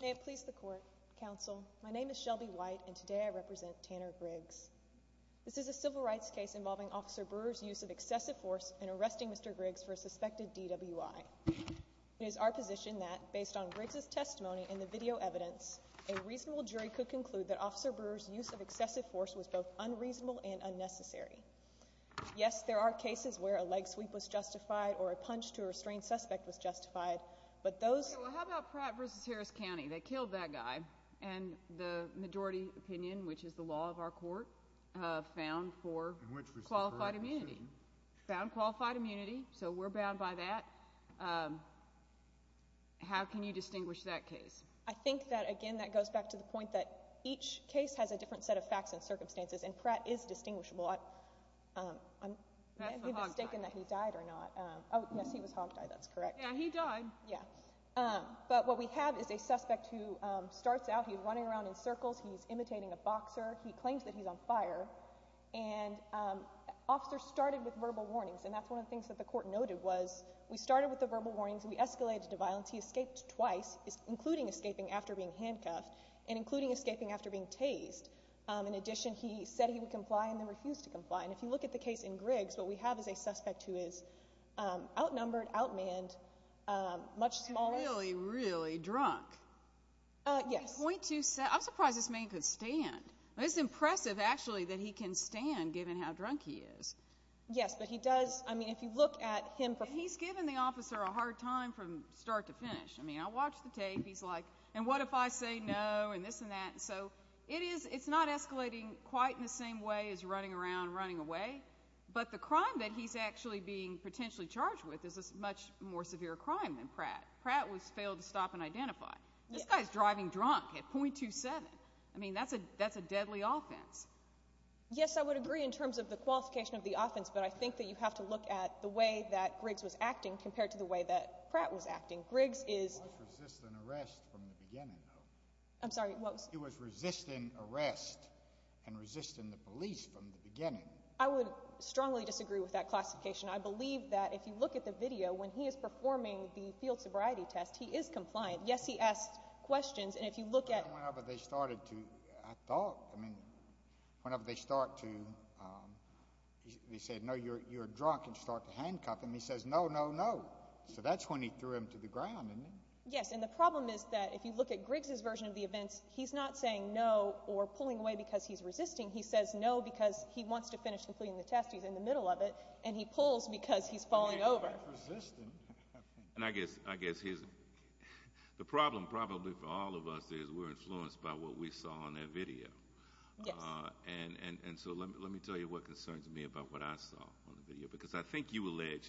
May it please the Court, Counsel, my name is Shelby White, and today I represent Tanner Griggs. This is a civil rights case involving Officer Brewer's use of excessive force in arresting Mr. Griggs for a suspected DWI. It is our position that, based on Griggs' testimony and the video evidence, a reasonable and unnecessary. Yes, there are cases where a leg sweep was justified or a punch to a restrained suspect was justified, but those— Okay, well how about Pratt v. Harris County? They killed that guy, and the majority opinion, which is the law of our court, found for qualified immunity. Found qualified immunity, so we're bound by that. How can you distinguish that case? I think that, again, that goes back to the point that each case has a different set of circumstances, and Pratt is distinguishable. That's a hog tie. I'm mistaken that he died or not. Oh, yes, he was hog-tied. That's correct. Yeah, he died. Yeah. But what we have is a suspect who starts out, he's running around in circles, he's imitating a boxer, he claims that he's on fire, and officers started with verbal warnings, and that's one of the things that the Court noted, was we started with the verbal warnings, we escalated to violence, he escaped twice, including escaping after being handcuffed, and including escaping after being tased. In addition, he said he would comply, and then refused to comply, and if you look at the case in Griggs, what we have is a suspect who is outnumbered, outmanned, much smaller. Really, really drunk. Yes. I'm surprised this man could stand. It's impressive, actually, that he can stand, given how drunk he is. Yes, but he does, I mean, if you look at him for... And he's giving the officer a hard time from start to finish. I mean, I watch the tape, he's like, and what if I say no, and this and that, so it's not escalating quite in the same way as running around, running away, but the crime that he's actually being potentially charged with is a much more severe crime than Pratt. Pratt was failed to stop and identify. This guy's driving drunk at .27. I mean, that's a deadly offense. Yes, I would agree in terms of the qualification of the offense, but I think that you have to look at the way that Griggs was acting compared to the way that Pratt was acting. Griggs is... He was resisting arrest from the beginning, though. I'm sorry, what was... He was resisting arrest and resisting the police from the beginning. I would strongly disagree with that classification. I believe that if you look at the video, when he is performing the field sobriety test, he is compliant. Yes, he asks questions, and if you look at... Whenever they started to, I thought, I mean, whenever they start to, they said, no, you're drunk, and you start to handcuff him, he says, no, no, no. So that's when he threw him to the ground, isn't it? Yes, and the problem is that if you look at Griggs's version of the events, he's not saying no or pulling away because he's resisting. He says no because he wants to finish completing the test. He's in the middle of it, and he pulls because he's falling over. He's resisting. And I guess his... The problem probably for all of us is we're influenced by what we saw in that video. Yes. And so let me tell you what concerns me about what I saw on the video, because I think you complain about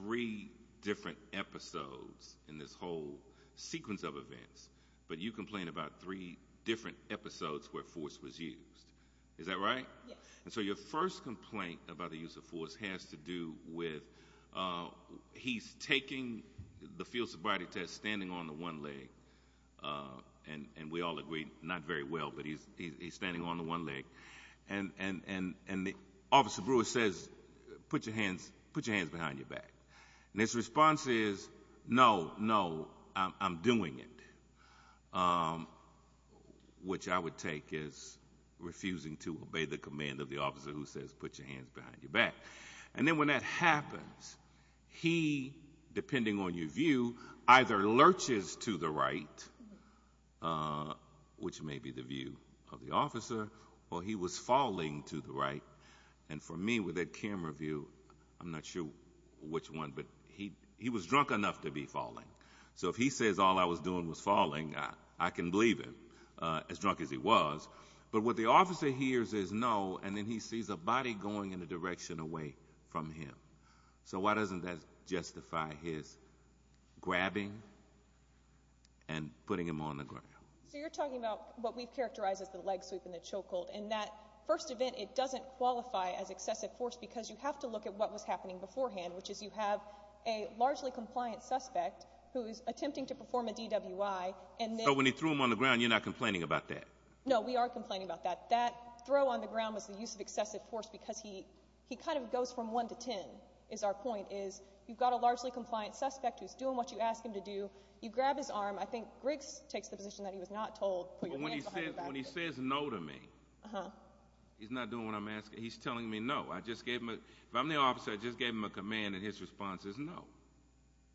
three different episodes in this whole sequence of events, but you complain about three different episodes where force was used. Is that right? Yes. And so your first complaint about the use of force has to do with... He's taking the field sobriety test standing on the one leg, and we all agreed, not very well, but he's standing on the one leg, and Officer Brewer says, put your hands behind your back. And his response is, no, no, I'm doing it, which I would take as refusing to obey the command of the officer who says, put your hands behind your back. And then when that happens, he, depending on your view, either lurches to the right, which may be the view of the officer, or he was falling to the right. And for me, with that camera view, I'm not sure which one, but he was drunk enough to be falling. So if he says all I was doing was falling, I can believe him, as drunk as he was. But what the officer hears is no, and then he sees a body going in the direction away from him. So why doesn't that justify his grabbing and putting him on the ground? So you're talking about what we've characterized as the leg sweep and the choke hold. And that first event, it doesn't qualify as excessive force, because you have to look at what was happening beforehand, which is you have a largely compliant suspect who is attempting to perform a DWI. So when he threw him on the ground, you're not complaining about that? No, we are complaining about that. That throw on the ground was the use of excessive force, because he kind of goes from one to ten, is our point, is you've got a largely compliant suspect who's doing what you ask him to do. You grab his arm. When he says no to me, he's not doing what I'm asking. He's telling me no. If I'm the officer, I just gave him a command, and his response is no.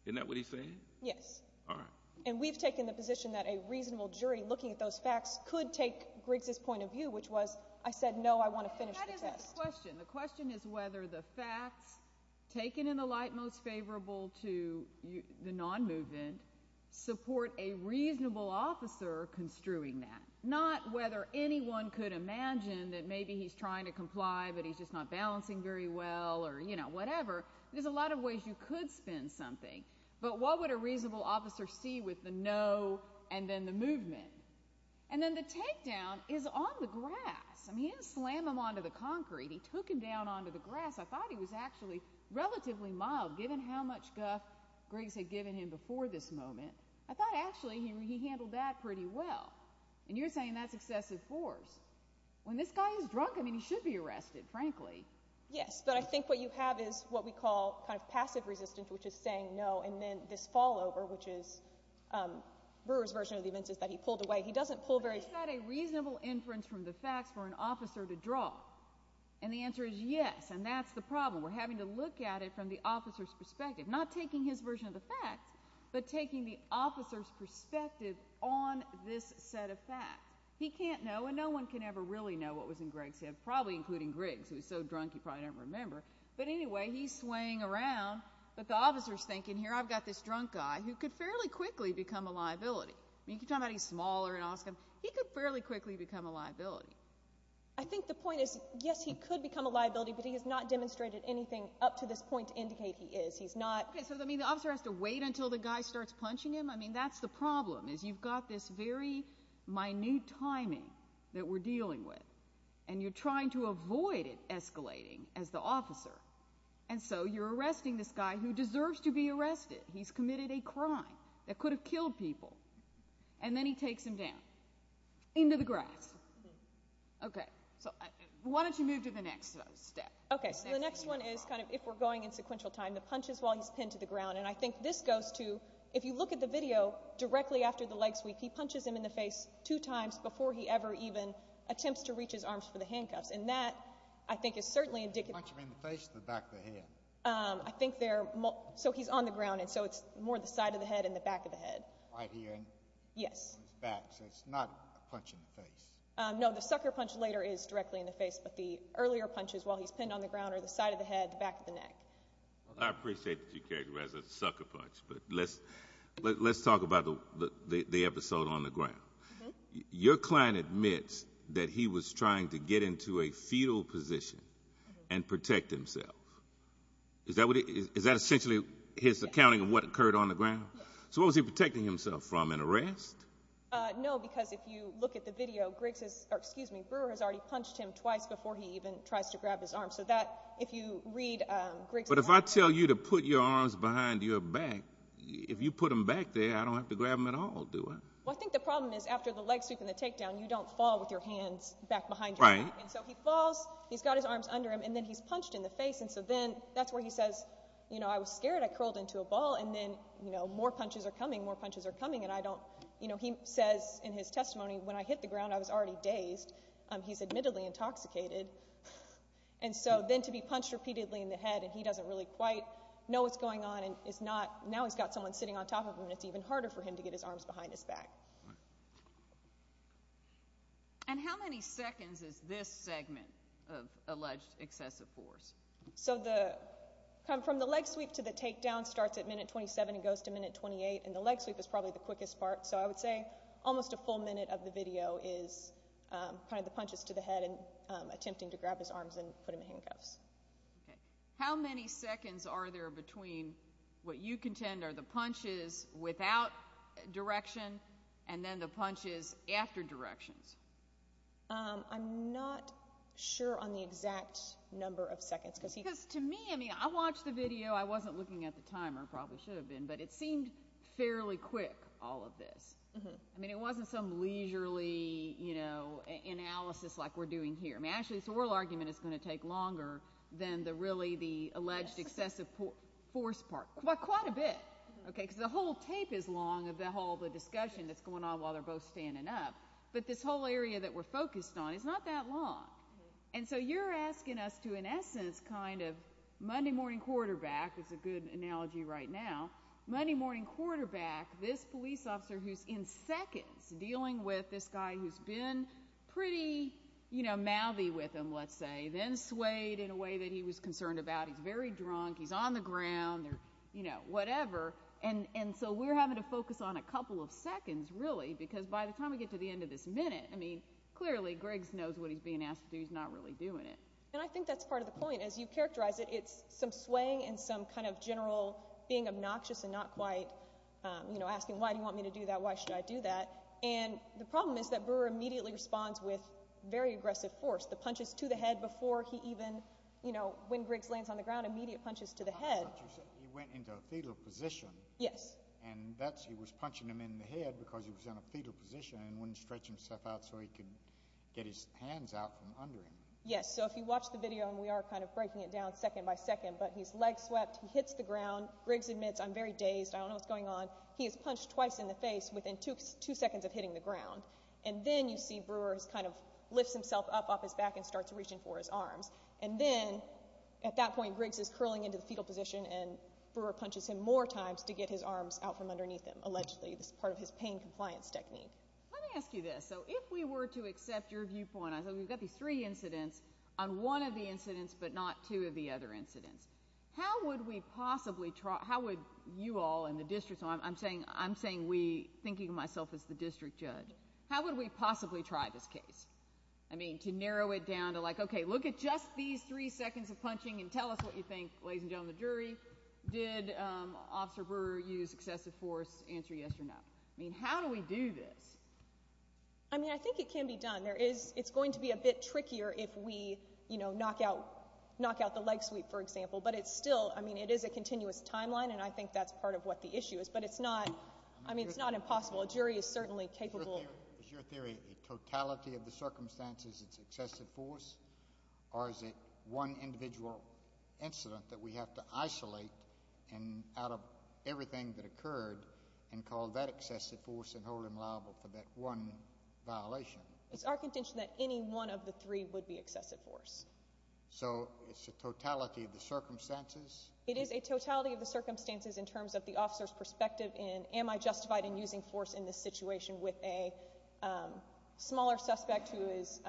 Isn't that what he's saying? Yes. All right. And we've taken the position that a reasonable jury, looking at those facts, could take Griggs' point of view, which was, I said no, I want to finish the test. And that isn't the question. The question is whether the facts, taken in the light most favorable to the non-movement, support a reasonable officer construing that. Not whether anyone could imagine that maybe he's trying to comply, but he's just not balancing very well, or, you know, whatever. There's a lot of ways you could spin something. But what would a reasonable officer see with the no and then the movement? And then the takedown is on the grass. I mean, he didn't slam him onto the concrete. He took him down onto the grass. I thought he was actually relatively mild, given how much guff Griggs had given him before this moment. I thought actually he handled that pretty well. And you're saying that's excessive force. When this guy is drunk, I mean, he should be arrested, frankly. Yes, but I think what you have is what we call kind of passive resistance, which is saying no, and then this fall over, which is Brewer's version of the events is that he pulled away. He doesn't pull very far. But is that a reasonable inference from the facts for an officer to draw? And the answer is yes, and that's the problem. We're having to look at it from the officer's perspective. Not taking his version of the facts, but taking the officer's perspective on this set of facts. He can't know, and no one can ever really know what was in Griggs' head, probably including Griggs, who was so drunk he probably didn't remember. But anyway, he's swaying around, but the officer's thinking, here, I've got this drunk guy who could fairly quickly become a liability. I mean, you keep talking about he's smaller and all this stuff. He could fairly quickly become a liability. I think the point is, yes, he could become a liability, but he has not demonstrated anything up to this point to indicate he is. He's not... Okay, so the officer has to wait until the guy starts punching him? I mean, that's the problem, is you've got this very minute timing that we're dealing with, and you're trying to avoid it escalating as the officer. And so you're arresting this guy who deserves to be arrested. He's committed a crime that could have killed people, and then he takes him down into the grass. Okay, so why don't you move to the next step? Okay, so the next one is kind of, if we're going in sequential time, the punches while he's pinned to the ground. And I think this goes to, if you look at the video directly after the leg sweep, he punches him in the face two times before he ever even attempts to reach his arms for the handcuffs. And that, I think, is certainly indicative... Did he punch him in the face or the back of the head? I think they're... So he's on the ground, and so it's more the side of the head and the back of the head. Right here. Yes. On his back, so it's not a punch in the face. No, the sucker punch later is directly in the face, but the earlier punches while he's pinned on the ground are the side of the head, the back of the neck. I appreciate that you characterize it as a sucker punch, but let's talk about the episode on the ground. Your client admits that he was trying to get into a fetal position and protect himself. Is that essentially his accounting of what occurred on the ground? So what was he protecting himself from, an arrest? No, because if you look at the video, Brewer has already punched him twice before he even has to grab his arm. So that, if you read Greg's... But if I tell you to put your arms behind your back, if you put them back there, I don't have to grab them at all, do I? Well, I think the problem is after the leg sweep and the takedown, you don't fall with your hands back behind your back. Right. And so he falls, he's got his arms under him, and then he's punched in the face. And so then, that's where he says, you know, I was scared, I curled into a ball, and then, you know, more punches are coming, more punches are coming, and I don't... You know, he says in his testimony, when I hit the ground, I was already dazed. He's admittedly intoxicated. And so then to be punched repeatedly in the head, and he doesn't really quite know what's going on and is not... Now he's got someone sitting on top of him, and it's even harder for him to get his arms behind his back. Right. And how many seconds is this segment of alleged excessive force? So the... From the leg sweep to the takedown starts at minute 27 and goes to minute 28, and the leg sweep is probably the quickest part. So I would say almost a full minute of the video is kind of the punches to the head and attempting to grab his arms and put him in handcuffs. Okay. How many seconds are there between what you contend are the punches without direction and then the punches after directions? I'm not sure on the exact number of seconds, because he... Because to me, I mean, I watched the video. I wasn't looking at the timer. I probably should have been, but it seemed fairly quick, all of this. I mean, it wasn't some leisurely analysis like we're doing here. I mean, actually, this oral argument is going to take longer than really the alleged excessive force part. Quite a bit, okay, because the whole tape is long of the whole discussion that's going on while they're both standing up, but this whole area that we're focused on is not that long. And so you're asking us to, in essence, kind of Monday morning quarterback, it's a good analogy right now, Monday morning quarterback, this police officer who's in seconds dealing with this guy who's been pretty mouthy with him, let's say, then swayed in a way that he was concerned about. He's very drunk. He's on the ground or whatever. And so we're having to focus on a couple of seconds, really, because by the time we get to the end of this minute, I mean, clearly, Griggs knows what he's being asked to do. He's not really doing it. And I think that's part of the point. As you characterize it, it's some swaying and some kind of general being obnoxious and not quite asking, why do you want me to do that? Why should I do that? And the problem is that Brewer immediately responds with very aggressive force, the punches to the head before he even, when Griggs lands on the ground, immediate punches to the head. He went into a fetal position. Yes. And he was punching him in the head because he was in a fetal position and wouldn't stretch himself out so he could get his hands out from under him. Yes. And so if you watch the video, and we are kind of breaking it down second by second, but he's leg swept. He hits the ground. Griggs admits, I'm very dazed. I don't know what's going on. He is punched twice in the face within two seconds of hitting the ground. And then you see Brewer kind of lifts himself up off his back and starts reaching for his arms. And then, at that point, Griggs is curling into the fetal position and Brewer punches him more times to get his arms out from underneath him, allegedly. This is part of his pain compliance technique. Let me ask you this. So if we were to accept your viewpoint, we've got these three incidents, on one of the incidents but not two of the other incidents, how would we possibly try, how would you all in the district, I'm saying we, thinking of myself as the district judge, how would we possibly try this case? I mean, to narrow it down to like, okay, look at just these three seconds of punching and tell us what you think, ladies and gentlemen of the jury, did Officer Brewer use excessive force? Answer yes or no. I mean, how do we do this? I mean, I think it can be done. There is, it's going to be a bit trickier if we, you know, knock out, knock out the leg sweep, for example. But it's still, I mean, it is a continuous timeline and I think that's part of what the issue is. But it's not, I mean, it's not impossible. A jury is certainly capable. Is your theory a totality of the circumstances, it's excessive force? Or is it one individual incident that we have to isolate and out of everything that occurred and call that excessive force and hold him liable for that one violation? It's our contention that any one of the three would be excessive force. So, it's a totality of the circumstances? It is a totality of the circumstances in terms of the officer's perspective in am I justified in using force in this situation with a smaller suspect who is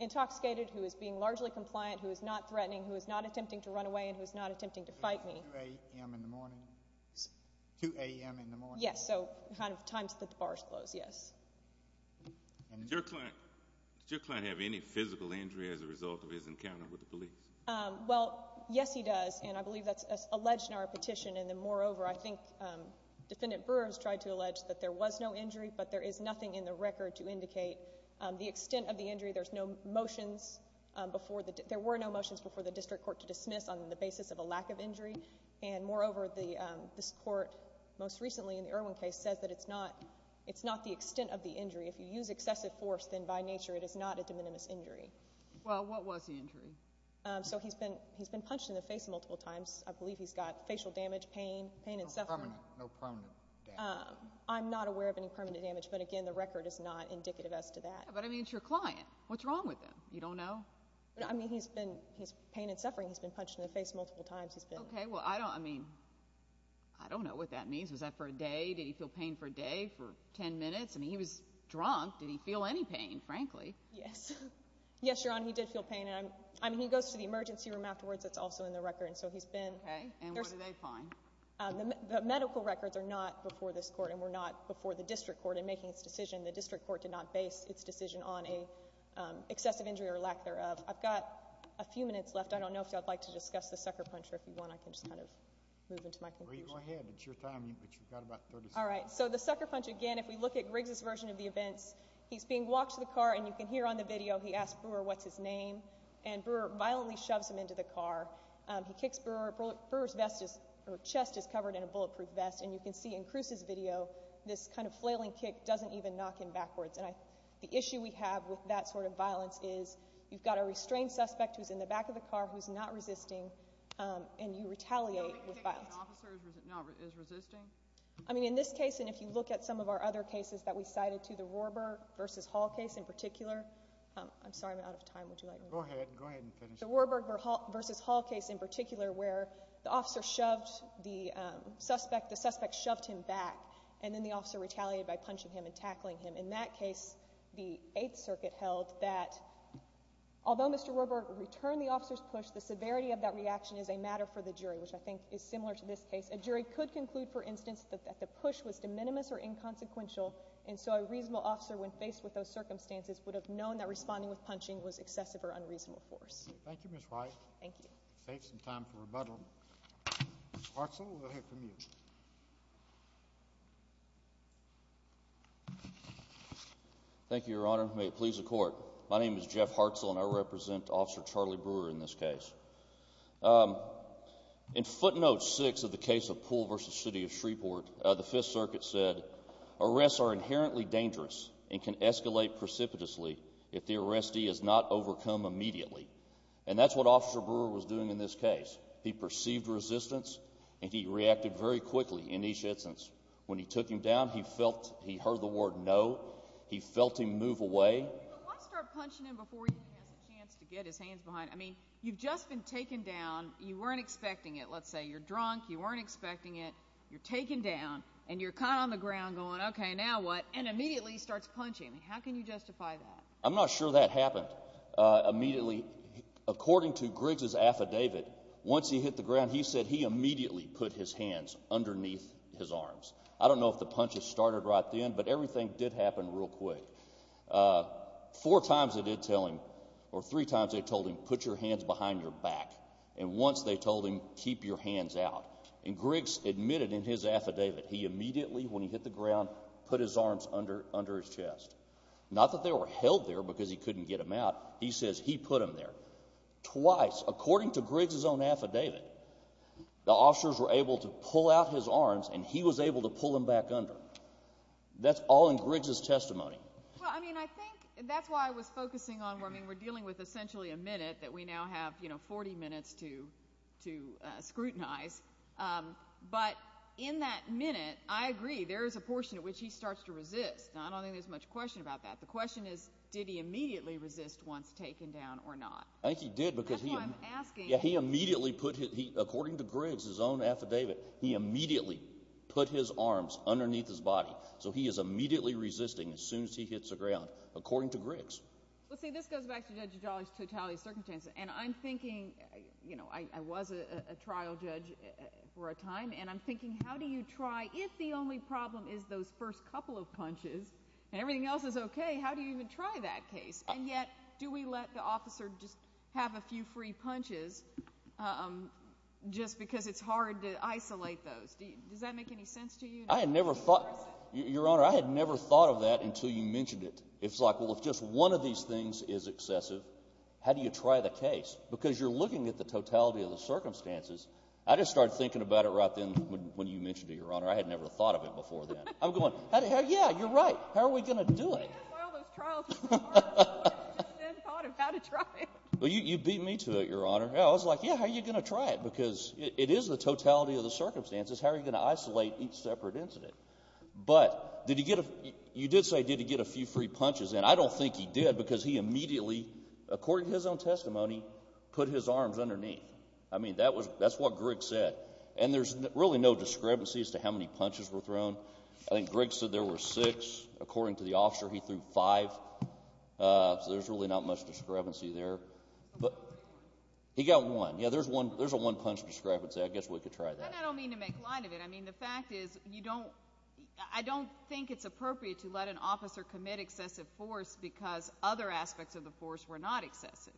intoxicated, who is being largely compliant, who is not threatening, who is not attempting to run away, and who is not attempting to fight me. 2 a.m. in the morning? 2 a.m. in the morning? Yes. So, kind of times that the bars close, yes. Does your client have any physical injury as a result of his encounter with the police? Well, yes, he does. And I believe that's alleged in our petition. And then, moreover, I think Defendant Brewer has tried to allege that there was no injury, but there is nothing in the record to indicate the extent of the injury. There's no motions before the, there were no motions before the district court to dismiss on the basis of a lack of injury. And, moreover, the, this court most recently in the Irwin case says that it's not, it's not the extent of the injury. If you use excessive force, then by nature it is not a de minimis injury. Well, what was the injury? So, he's been, he's been punched in the face multiple times. I believe he's got facial damage, pain, pain and suffering. No permanent, no permanent damage. I'm not aware of any permanent damage. But, again, the record is not indicative as to that. But, I mean, it's your client. What's wrong with him? You don't know? I mean, he's been, he's pain and suffering. He's been punched in the face multiple times. He's been. Okay. Well, I don't, I mean, I don't know what that means. Was that for a day? Did he feel pain for a day? For ten minutes? I mean, he was drunk. Did he feel any pain, frankly? Yes. Yes, Your Honor, he did feel pain. And, I mean, he goes to the emergency room afterwards. It's also in the record. And so, he's been. Okay. And what did they find? The medical records are not before this court and were not before the district court in making its decision. The district court did not base its decision on an excessive injury or lack thereof. I've got a few minutes left. I don't know if you'd like to discuss the sucker puncher if you want. I can just kind of move into my conclusion. Well, you go ahead. It's your time. But you've got about 30 seconds. All right. So, the sucker punch, again, if we look at Griggs' version of the events, he's being walked to the car. And you can hear on the video, he asks Brewer, what's his name? And Brewer violently shoves him into the car. He kicks Brewer. Brewer's vest is, or chest is covered in a bulletproof vest. And you can see in Cruz's video, this kind of flailing kick doesn't even knock him backwards. And the issue we have with that sort of violence is you've got a restrained suspect who's in the back of the car who's not resisting, and you retaliate with violence. Do you think the officer is resisting? I mean, in this case, and if you look at some of our other cases that we cited to, the Warburg v. Hall case in particular. I'm sorry. I'm out of time. Would you like me to? Go ahead. Go ahead and finish. The Warburg v. Hall case in particular, where the officer shoved the suspect, the suspect shoved him back, and then the officer retaliated by punching him and tackling him. In that case, the Eighth Circuit held that although Mr. Warburg returned the officer's push, the severity of that reaction is a matter for the jury, which I think is similar to this case. A jury could conclude, for instance, that the push was de minimis or inconsequential, and so a reasonable officer, when faced with those circumstances, would have known that responding with punching was excessive or unreasonable force. Thank you, Ms. Wright. Thank you. Save some time for rebuttal. Mr. Hartzell, we'll hear from you. Thank you, Your Honor. May it please the Court. My name is Jeff Hartzell, and I represent Officer Charlie Brewer in this case. In footnote 6 of the case of Poole v. City of Shreveport, the Fifth Circuit said, Arrests are inherently dangerous and can escalate precipitously if the arrestee is not overcome immediately. And that's what Officer Brewer was doing in this case. He perceived resistance, and he reacted very quickly in each instance. When he took him down, he felt he heard the word no. He felt him move away. But why start punching him before he has a chance to get his hands behind him? I mean, you've just been taken down. You weren't expecting it. Let's say you're drunk. You weren't expecting it. You're taken down, and you're kind of on the ground going, OK, now what? And immediately he starts punching. How can you justify that? I'm not sure that happened. Immediately, according to Griggs' affidavit, once he hit the ground, he said he immediately put his hands underneath his arms. I don't know if the punches started right then, but everything did happen real quick. Four times they did tell him, or three times they told him, put your hands behind your back. And once they told him, keep your hands out. And Griggs admitted in his affidavit he immediately, when he hit the ground, put his arms under his chest. Not that they were held there because he couldn't get them out. He says he put them there. Twice, according to Griggs' own affidavit, the officers were able to pull out his arms, and he was able to pull them back under. That's all in Griggs' testimony. Well, I mean, I think that's why I was focusing on, I mean, we're dealing with essentially a minute that we now have 40 minutes to scrutinize. But in that minute, I agree, there is a portion at which he starts to resist. Now, I don't think there's much question about that. The question is, did he immediately resist once taken down or not? I think he did because he immediately put, according to Griggs' own affidavit, he immediately put his arms underneath his body. So he is immediately resisting as soon as he hits the ground, according to Griggs. Well, see, this goes back to Judge Adali's totality of circumstances. And I'm thinking, you know, I was a trial judge for a time, and I'm thinking, how do you try, if the only problem is those first couple of punches and everything else is okay, how do you even try that case? And yet, do we let the officer just have a few free punches just because it's hard to isolate those? Does that make any sense to you? I had never thought, Your Honor, I had never thought of that until you mentioned it. It's like, well, if just one of these things is excessive, how do you try the case? Because you're looking at the totality of the circumstances. I just started thinking about it right then when you mentioned it, Your Honor. I had never thought of it before then. I'm going, yeah, you're right. How are we going to do it? That's why all those trials are so hard. I just then thought of how to try it. Well, you beat me to it, Your Honor. I was like, yeah, how are you going to try it? Because it is the totality of the circumstances. How are you going to isolate each separate incident? But you did say, did he get a few free punches, and I don't think he did because he immediately, according to his own testimony, put his arms underneath. I mean, that's what Greg said. And there's really no discrepancy as to how many punches were thrown. I think Greg said there were six. According to the officer, he threw five. So there's really not much discrepancy there. He got one. Yeah, there's a one-punch discrepancy. I guess we could try that. I don't mean to make light of it. I mean, the fact is you don't – I don't think it's appropriate to let an officer commit excessive force because other aspects of the force were not excessive.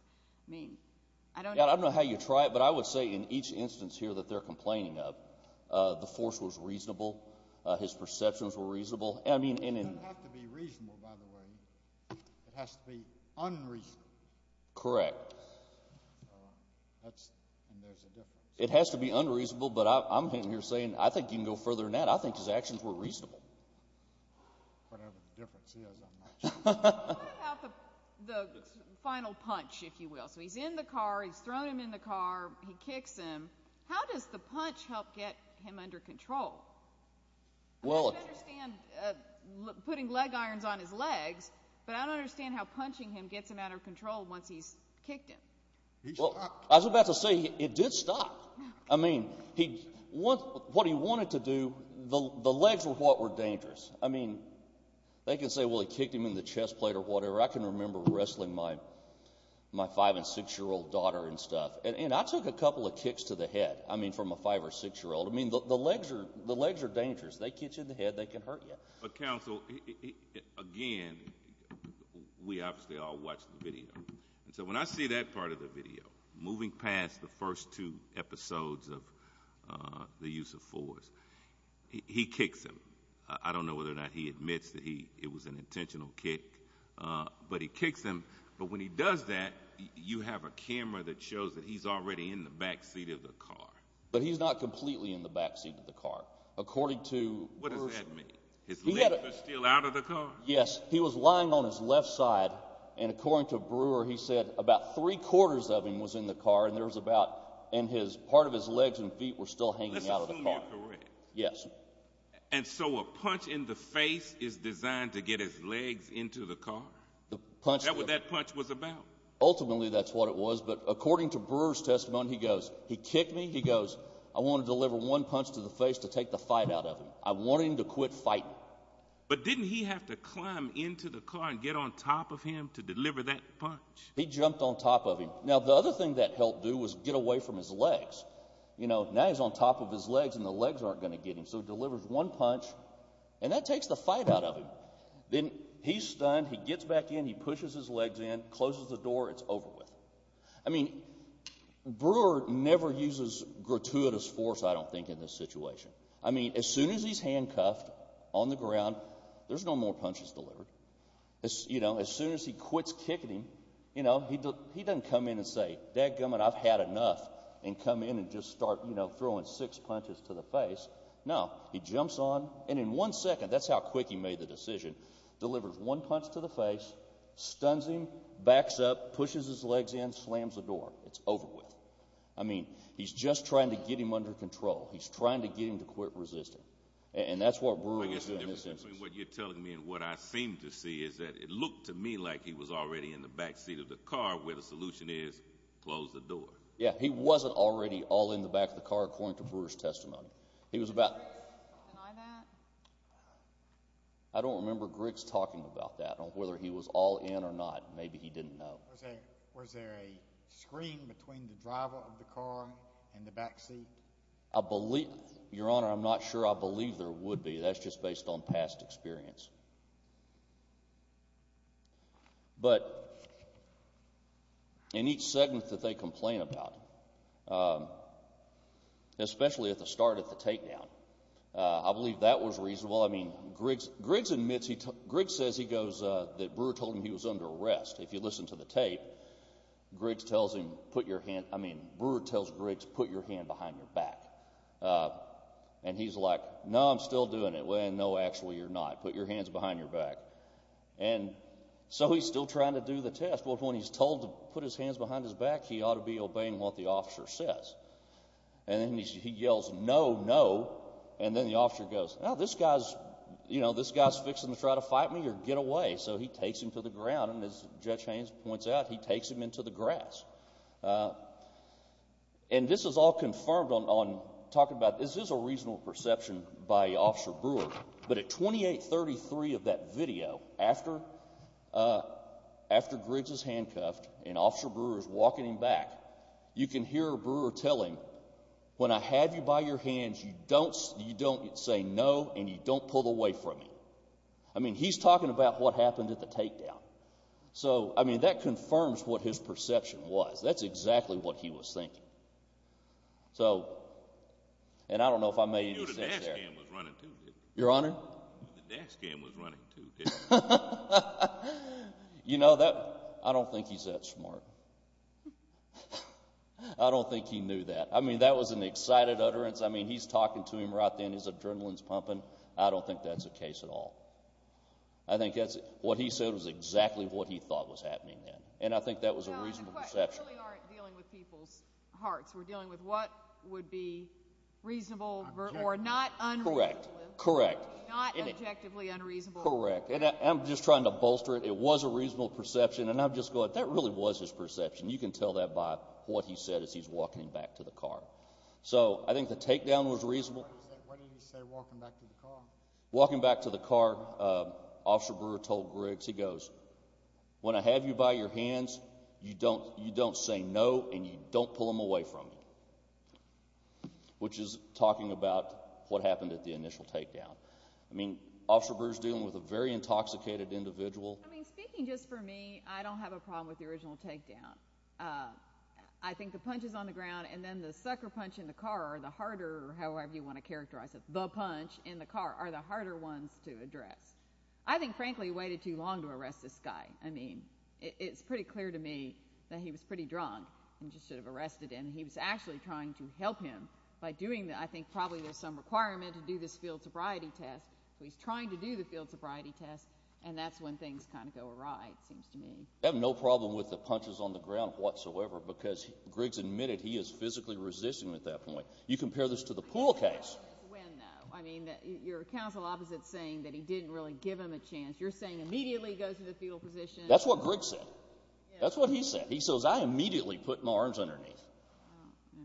I don't know how you try it, but I would say in each instance here that they're complaining of, the force was reasonable, his perceptions were reasonable. It doesn't have to be reasonable, by the way. It has to be unreasonable. Correct. And there's a difference. It has to be unreasonable, but I'm sitting here saying, I think you can go further than that. I think his actions were reasonable. Whatever the difference is, I'm not sure. What about the final punch, if you will? So he's in the car, he's thrown him in the car, he kicks him. How does the punch help get him under control? I don't understand putting leg irons on his legs, but I don't understand how punching him gets him out of control once he's kicked him. He stopped. I was about to say, it did stop. Yes. I mean, they can say, well, he kicked him in the chest plate or whatever. I can remember wrestling my 5- and 6-year-old daughter and stuff. And I took a couple of kicks to the head, I mean, from a 5- or 6-year-old. I mean, the legs are dangerous. They kick you in the head, they can hurt you. But, counsel, again, we obviously all watched the video. And so when I see that part of the video, moving past the first two episodes of the use of force, he kicks him. I don't know whether or not he admits that it was an intentional kick. But he kicks him. But when he does that, you have a camera that shows that he's already in the back seat of the car. But he's not completely in the back seat of the car. What does that mean? His legs are still out of the car? Yes. He was lying on his left side, and according to Brewer, he said about three-quarters of him was in the car, and part of his legs and feet were still hanging out of the car. Is that correct? Yes. And so a punch in the face is designed to get his legs into the car? That's what that punch was about. Ultimately, that's what it was. But according to Brewer's testimony, he goes, he kicked me, he goes, I want to deliver one punch to the face to take the fight out of him. I want him to quit fighting. But didn't he have to climb into the car and get on top of him to deliver that punch? He jumped on top of him. Now, the other thing that helped do was get away from his legs. Now he's on top of his legs, and the legs aren't going to get him, so he delivers one punch, and that takes the fight out of him. Then he's stunned. He gets back in. He pushes his legs in, closes the door. It's over with. I mean, Brewer never uses gratuitous force, I don't think, in this situation. I mean, as soon as he's handcuffed on the ground, there's no more punches delivered. As soon as he quits kicking him, he doesn't come in and say, Dadgummit, I've had enough, and come in and just start, you know, throwing six punches to the face. No, he jumps on, and in one second, that's how quick he made the decision, delivers one punch to the face, stuns him, backs up, pushes his legs in, slams the door. It's over with. I mean, he's just trying to get him under control. He's trying to get him to quit resisting. And that's what Brewer is doing in this instance. I guess the difference between what you're telling me and what I seem to see is that it looked to me like he was already in the backseat of the car where the solution is close the door. Yeah, he wasn't already all in the back of the car, according to Brewer's testimony. He was about— Deny that? I don't remember Griggs talking about that, whether he was all in or not. Maybe he didn't know. Was there a screen between the driver of the car and the backseat? Your Honor, I'm not sure I believe there would be. That's just based on past experience. But in each segment that they complain about, especially at the start of the takedown, I believe that was reasonable. I mean, Griggs says he goes that Brewer told him he was under arrest. If you listen to the tape, Brewer tells Griggs, put your hand behind your back. And he's like, no, I'm still doing it. Well, no, actually you're not. Put your hands behind your back. And so he's still trying to do the test. Well, when he's told to put his hands behind his back, he ought to be obeying what the officer says. And then he yells, no, no. And then the officer goes, no, this guy's fixing to try to fight me or get away. So he takes him to the ground. And as Judge Haynes points out, he takes him into the grass. And this is all confirmed on talking about this is a reasonable perception by Officer Brewer. But at 2833 of that video, after Griggs is handcuffed and Officer Brewer is walking him back, you can hear Brewer telling, when I have you by your hands, you don't say no and you don't pull away from me. I mean, he's talking about what happened at the takedown. So, I mean, that confirms what his perception was. That's exactly what he was thinking. So, and I don't know if I made any sense there. The dash cam was running too, didn't it? Your Honor? The dash cam was running too, didn't it? You know, I don't think he's that smart. I don't think he knew that. I mean, that was an excited utterance. I mean, he's talking to him right then. His adrenaline's pumping. I don't think that's the case at all. I think what he said was exactly what he thought was happening then, and I think that was a reasonable perception. Your Honor, the questions really aren't dealing with people's hearts. We're dealing with what would be reasonable or not unreasonable. Correct, correct. Not objectively unreasonable. Correct. And I'm just trying to bolster it. It was a reasonable perception, and I'm just going, that really was his perception. You can tell that by what he said as he's walking him back to the car. So, I think the takedown was reasonable. What did he say walking back to the car? Walking back to the car, Officer Brewer told Griggs, he goes, when I have you by your hands, you don't say no and you don't pull them away from you, which is talking about what happened at the initial takedown. I mean, Officer Brewer's dealing with a very intoxicated individual. I mean, speaking just for me, I don't have a problem with the original takedown. I think the punches on the ground and then the sucker punch in the car, the harder, however you want to characterize it, the punch in the car, are the harder ones to address. I think, frankly, he waited too long to arrest this guy. I mean, it's pretty clear to me that he was pretty drunk and just should have arrested him. He was actually trying to help him by doing, I think, probably there's some requirement to do this field sobriety test. He's trying to do the field sobriety test, and that's when things kind of go awry, it seems to me. I have no problem with the punches on the ground whatsoever because Griggs admitted he is physically resisting at that point. You compare this to the pool case. When, though? I mean, your counsel opposite is saying that he didn't really give him a chance. You're saying immediately he goes to the fetal position. That's what Griggs said. That's what he said. He says, I immediately put my arms underneath.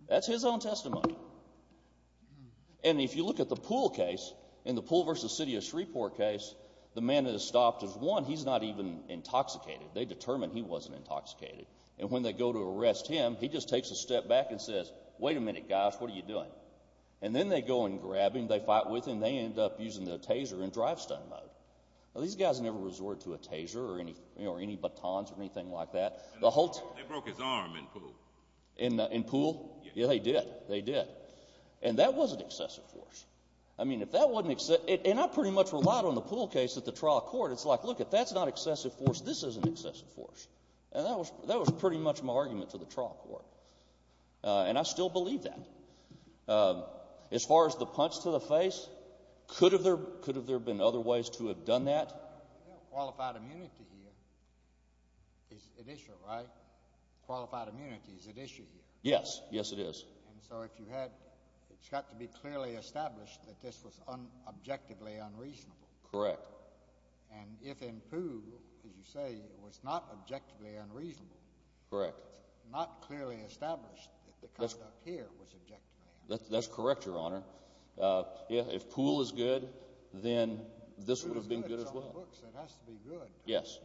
That's his own testimony. And if you look at the pool case, in the Pool v. City of Shreveport case, the man that is stopped is, one, he's not even intoxicated. They determined he wasn't intoxicated. And when they go to arrest him, he just takes a step back and says, wait a minute, guys, what are you doing? And then they go and grab him. They fight with him. They end up using the taser in drive-stun mode. These guys never resorted to a taser or any batons or anything like that. They broke his arm in pool. In pool? Yeah, they did. They did. And that was an excessive force. I mean, if that wasn't excessive, and I pretty much relied on the pool case at the trial court. It's like, look, if that's not excessive force, this isn't excessive force. And that was pretty much my argument to the trial court. And I still believe that. As far as the punch to the face, could there have been other ways to have done that? Qualified immunity here is at issue, right? Qualified immunity is at issue here. Yes, yes it is. And so if you had, it's got to be clearly established that this was objectively unreasonable. Correct. And if in pool, as you say, it was not objectively unreasonable. Correct. Not clearly established that the conduct here was objectively unreasonable. That's correct, Your Honor. If pool is good, then this would have been good as well. Pool is good. It's on books. It has to be good. Yes.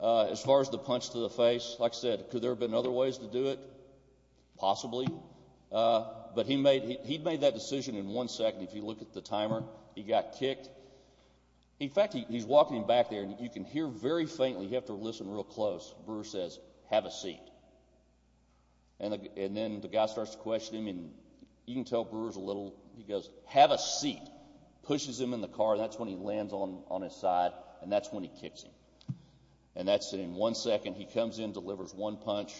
As far as the punch to the face, like I said, could there have been other ways to do it? Possibly. But he made that decision in one second. If you look at the timer, he got kicked. In fact, he's walking back there, and you can hear very faintly, you have to listen real close, Brewer says, have a seat. And then the guy starts to question him. And you can tell Brewer's a little, he goes, have a seat, pushes him in the car, and that's when he lands on his side, and that's when he kicks him. And that's in one second. And he comes in, delivers one punch,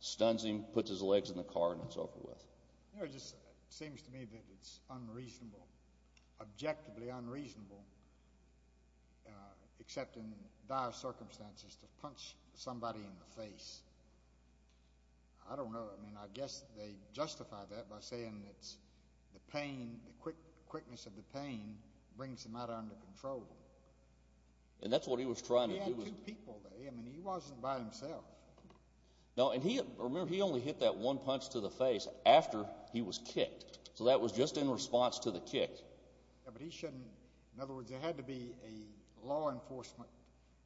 stuns him, puts his legs in the car, and it's over with. It just seems to me that it's unreasonable, objectively unreasonable, except in dire circumstances to punch somebody in the face. I don't know. I mean, I guess they justify that by saying that the pain, the quickness of the pain, brings them out of control. And that's what he was trying to do. I mean, he wasn't by himself. No, and remember, he only hit that one punch to the face after he was kicked. So that was just in response to the kick. Yeah, but he shouldn't, in other words, there had to be a law enforcement,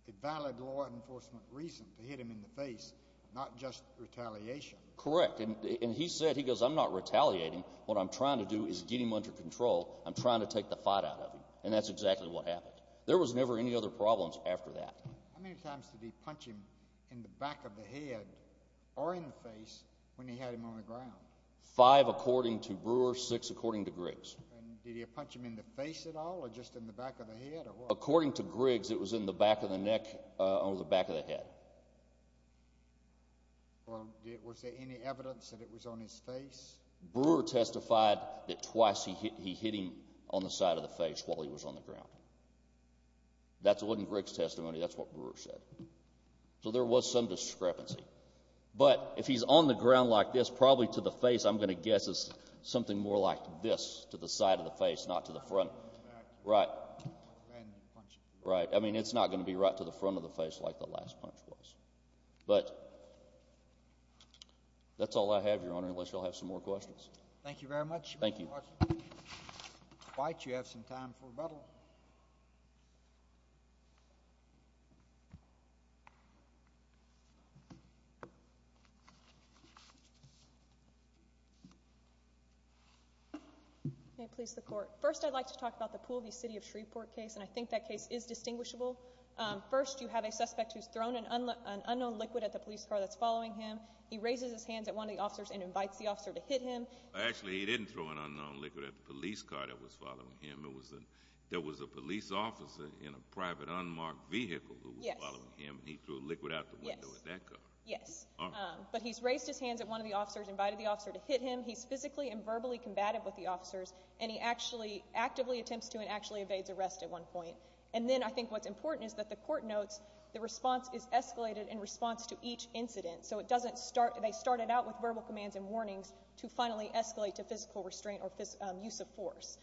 a valid law enforcement reason to hit him in the face, not just retaliation. Correct. And he said, he goes, I'm not retaliating. What I'm trying to do is get him under control. I'm trying to take the fight out of him. And that's exactly what happened. There was never any other problems after that. How many times did he punch him in the back of the head or in the face when he had him on the ground? Five according to Brewer, six according to Griggs. And did he punch him in the face at all or just in the back of the head? According to Griggs, it was in the back of the neck or the back of the head. Was there any evidence that it was on his face? Brewer testified that twice he hit him on the side of the face while he was on the ground. That's in Griggs' testimony. That's what Brewer said. So there was some discrepancy. But if he's on the ground like this, probably to the face, I'm going to guess, is something more like this to the side of the face, not to the front. Right. I mean, it's not going to be right to the front of the face like the last punch was. But that's all I have, Your Honor, unless you all have some more questions. Thank you very much. Thank you. Mr. White, you have some time for rebuttal. May it please the Court. First, I'd like to talk about the Poole v. City of Shreveport case, and I think that case is distinguishable. First, you have a suspect who's thrown an unknown liquid at the police car that's following him. He raises his hands at one of the officers and invites the officer to hit him. Actually, he didn't throw an unknown liquid at the police car that was following him. There was a police officer in a private unmarked vehicle who was following him, and he threw liquid out the window at that car. Yes. But he's raised his hands at one of the officers, invited the officer to hit him. He's physically and verbally combative with the officers, and he actually actively attempts to and actually evades arrest at one point. And then I think what's important is that the court notes the response is escalated in response to each incident. So it doesn't start. They started out with verbal commands and warnings to finally escalate to physical restraint or use of force.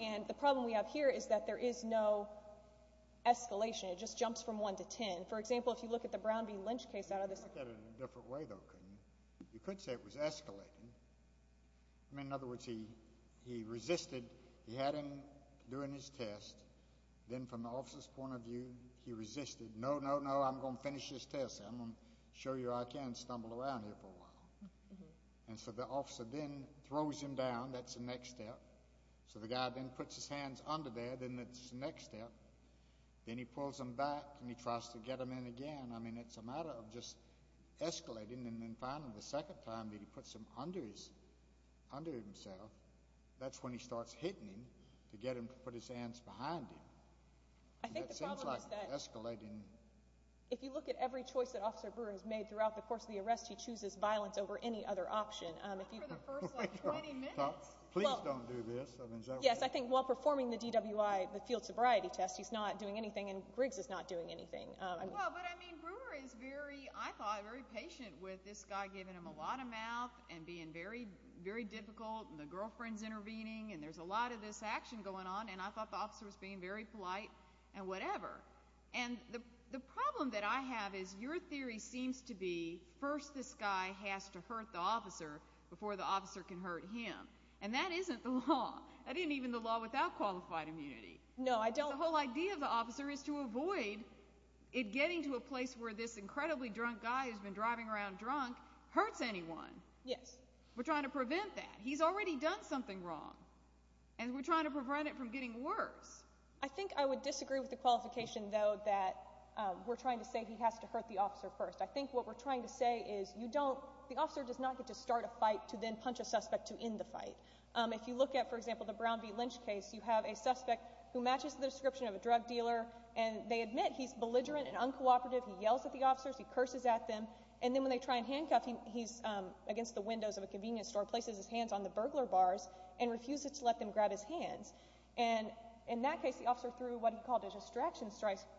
And the problem we have here is that there is no escalation. It just jumps from one to ten. For example, if you look at the Brown v. Lynch case out of this court. You could look at it in a different way, though, couldn't you? You could say it was escalating. I mean, in other words, he resisted. He had him doing his test. Then from the officer's point of view, he resisted. No, no, no, I'm going to finish this test. I'm going to show you I can stumble around here for a while. And so the officer then throws him down. That's the next step. So the guy then puts his hands under there. Then it's the next step. Then he pulls them back, and he tries to get them in again. I mean, it's a matter of just escalating. And then finally, the second time that he puts them under himself, that's when he starts hitting him to get him to put his hands behind him. I think the problem is that if you look at every choice that Officer Brewer has made throughout the course of the arrest, he chooses violence over any other option. Not for the first, like, 20 minutes. Please don't do this. Yes, I think while performing the DWI, the field sobriety test, he's not doing anything, and Griggs is not doing anything. Well, but, I mean, Brewer is very, I thought, very patient with this guy giving him a lot of mouth and being very difficult, and the girlfriend's intervening, and there's a lot of this action going on, and I thought the officer was being very polite and whatever. And the problem that I have is your theory seems to be first this guy has to hurt the officer before the officer can hurt him, and that isn't the law. That isn't even the law without qualified immunity. No, I don't. But the whole idea of the officer is to avoid it getting to a place where this incredibly drunk guy who's been driving around drunk hurts anyone. Yes. We're trying to prevent that. He's already done something wrong, and we're trying to prevent it from getting worse. I think I would disagree with the qualification, though, that we're trying to say he has to hurt the officer first. I think what we're trying to say is you don't, the officer does not get to start a fight to then punch a suspect to end the fight. If you look at, for example, the Brown v. Lynch case, you have a suspect who matches the description of a drug dealer, and they admit he's belligerent and uncooperative. He yells at the officers. He curses at them. And then when they try and handcuff him, he's against the windows of a convenience store, places his hands on the burglar bars, and refuses to let them grab his hands. And in that case, the officer threw what he called a distraction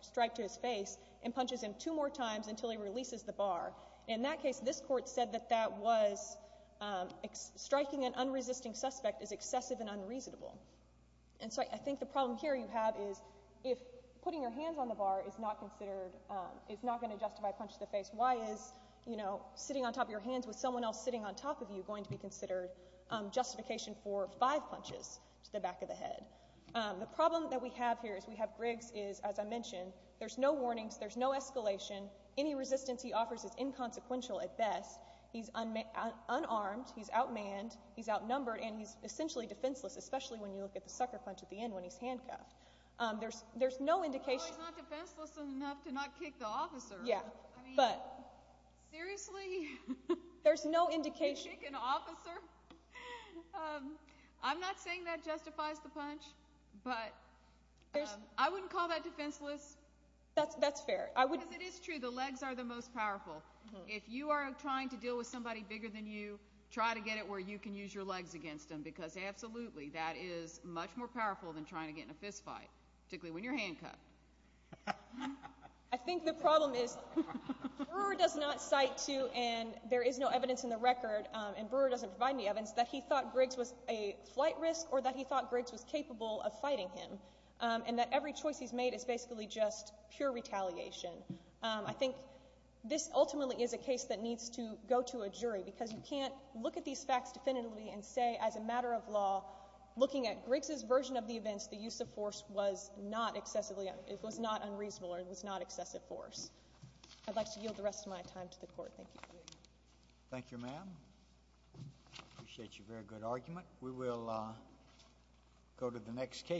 strike to his face and punches him two more times until he releases the bar. In that case, this court said that that was striking an unresisting suspect is excessive and unreasonable. And so I think the problem here you have is if putting your hands on the bar is not considered, is not going to justify a punch to the face, why is sitting on top of your hands with someone else sitting on top of you going to be considered justification for five punches to the back of the head? The problem that we have here is we have Griggs is, as I mentioned, there's no warnings. There's no escalation. Any resistance he offers is inconsequential at best. He's unarmed. He's outmanned. He's outnumbered. And he's essentially defenseless, especially when you look at the sucker punch at the end when he's handcuffed. There's no indication. Well, he's not defenseless enough to not kick the officer. Yeah, but. Seriously? There's no indication. To kick an officer? I'm not saying that justifies the punch, but I wouldn't call that defenseless. That's fair. Because it is true, the legs are the most powerful. If you are trying to deal with somebody bigger than you, try to get it where you can use your legs against them, because absolutely that is much more powerful than trying to get in a fist fight, particularly when you're handcuffed. I think the problem is Brewer does not cite to, and there is no evidence in the record, and Brewer doesn't provide any evidence, that he thought Griggs was a flight risk or that he thought Griggs was capable of fighting him, and that every choice he's made is basically just pure retaliation. I think this ultimately is a case that needs to go to a jury because you can't look at these facts definitively and say as a matter of law, looking at Griggs' version of the events, the use of force was not unreasonable or it was not excessive force. I'd like to yield the rest of my time to the Court. Thank you. Thank you, ma'am. I appreciate your very good argument. We will go to the next case.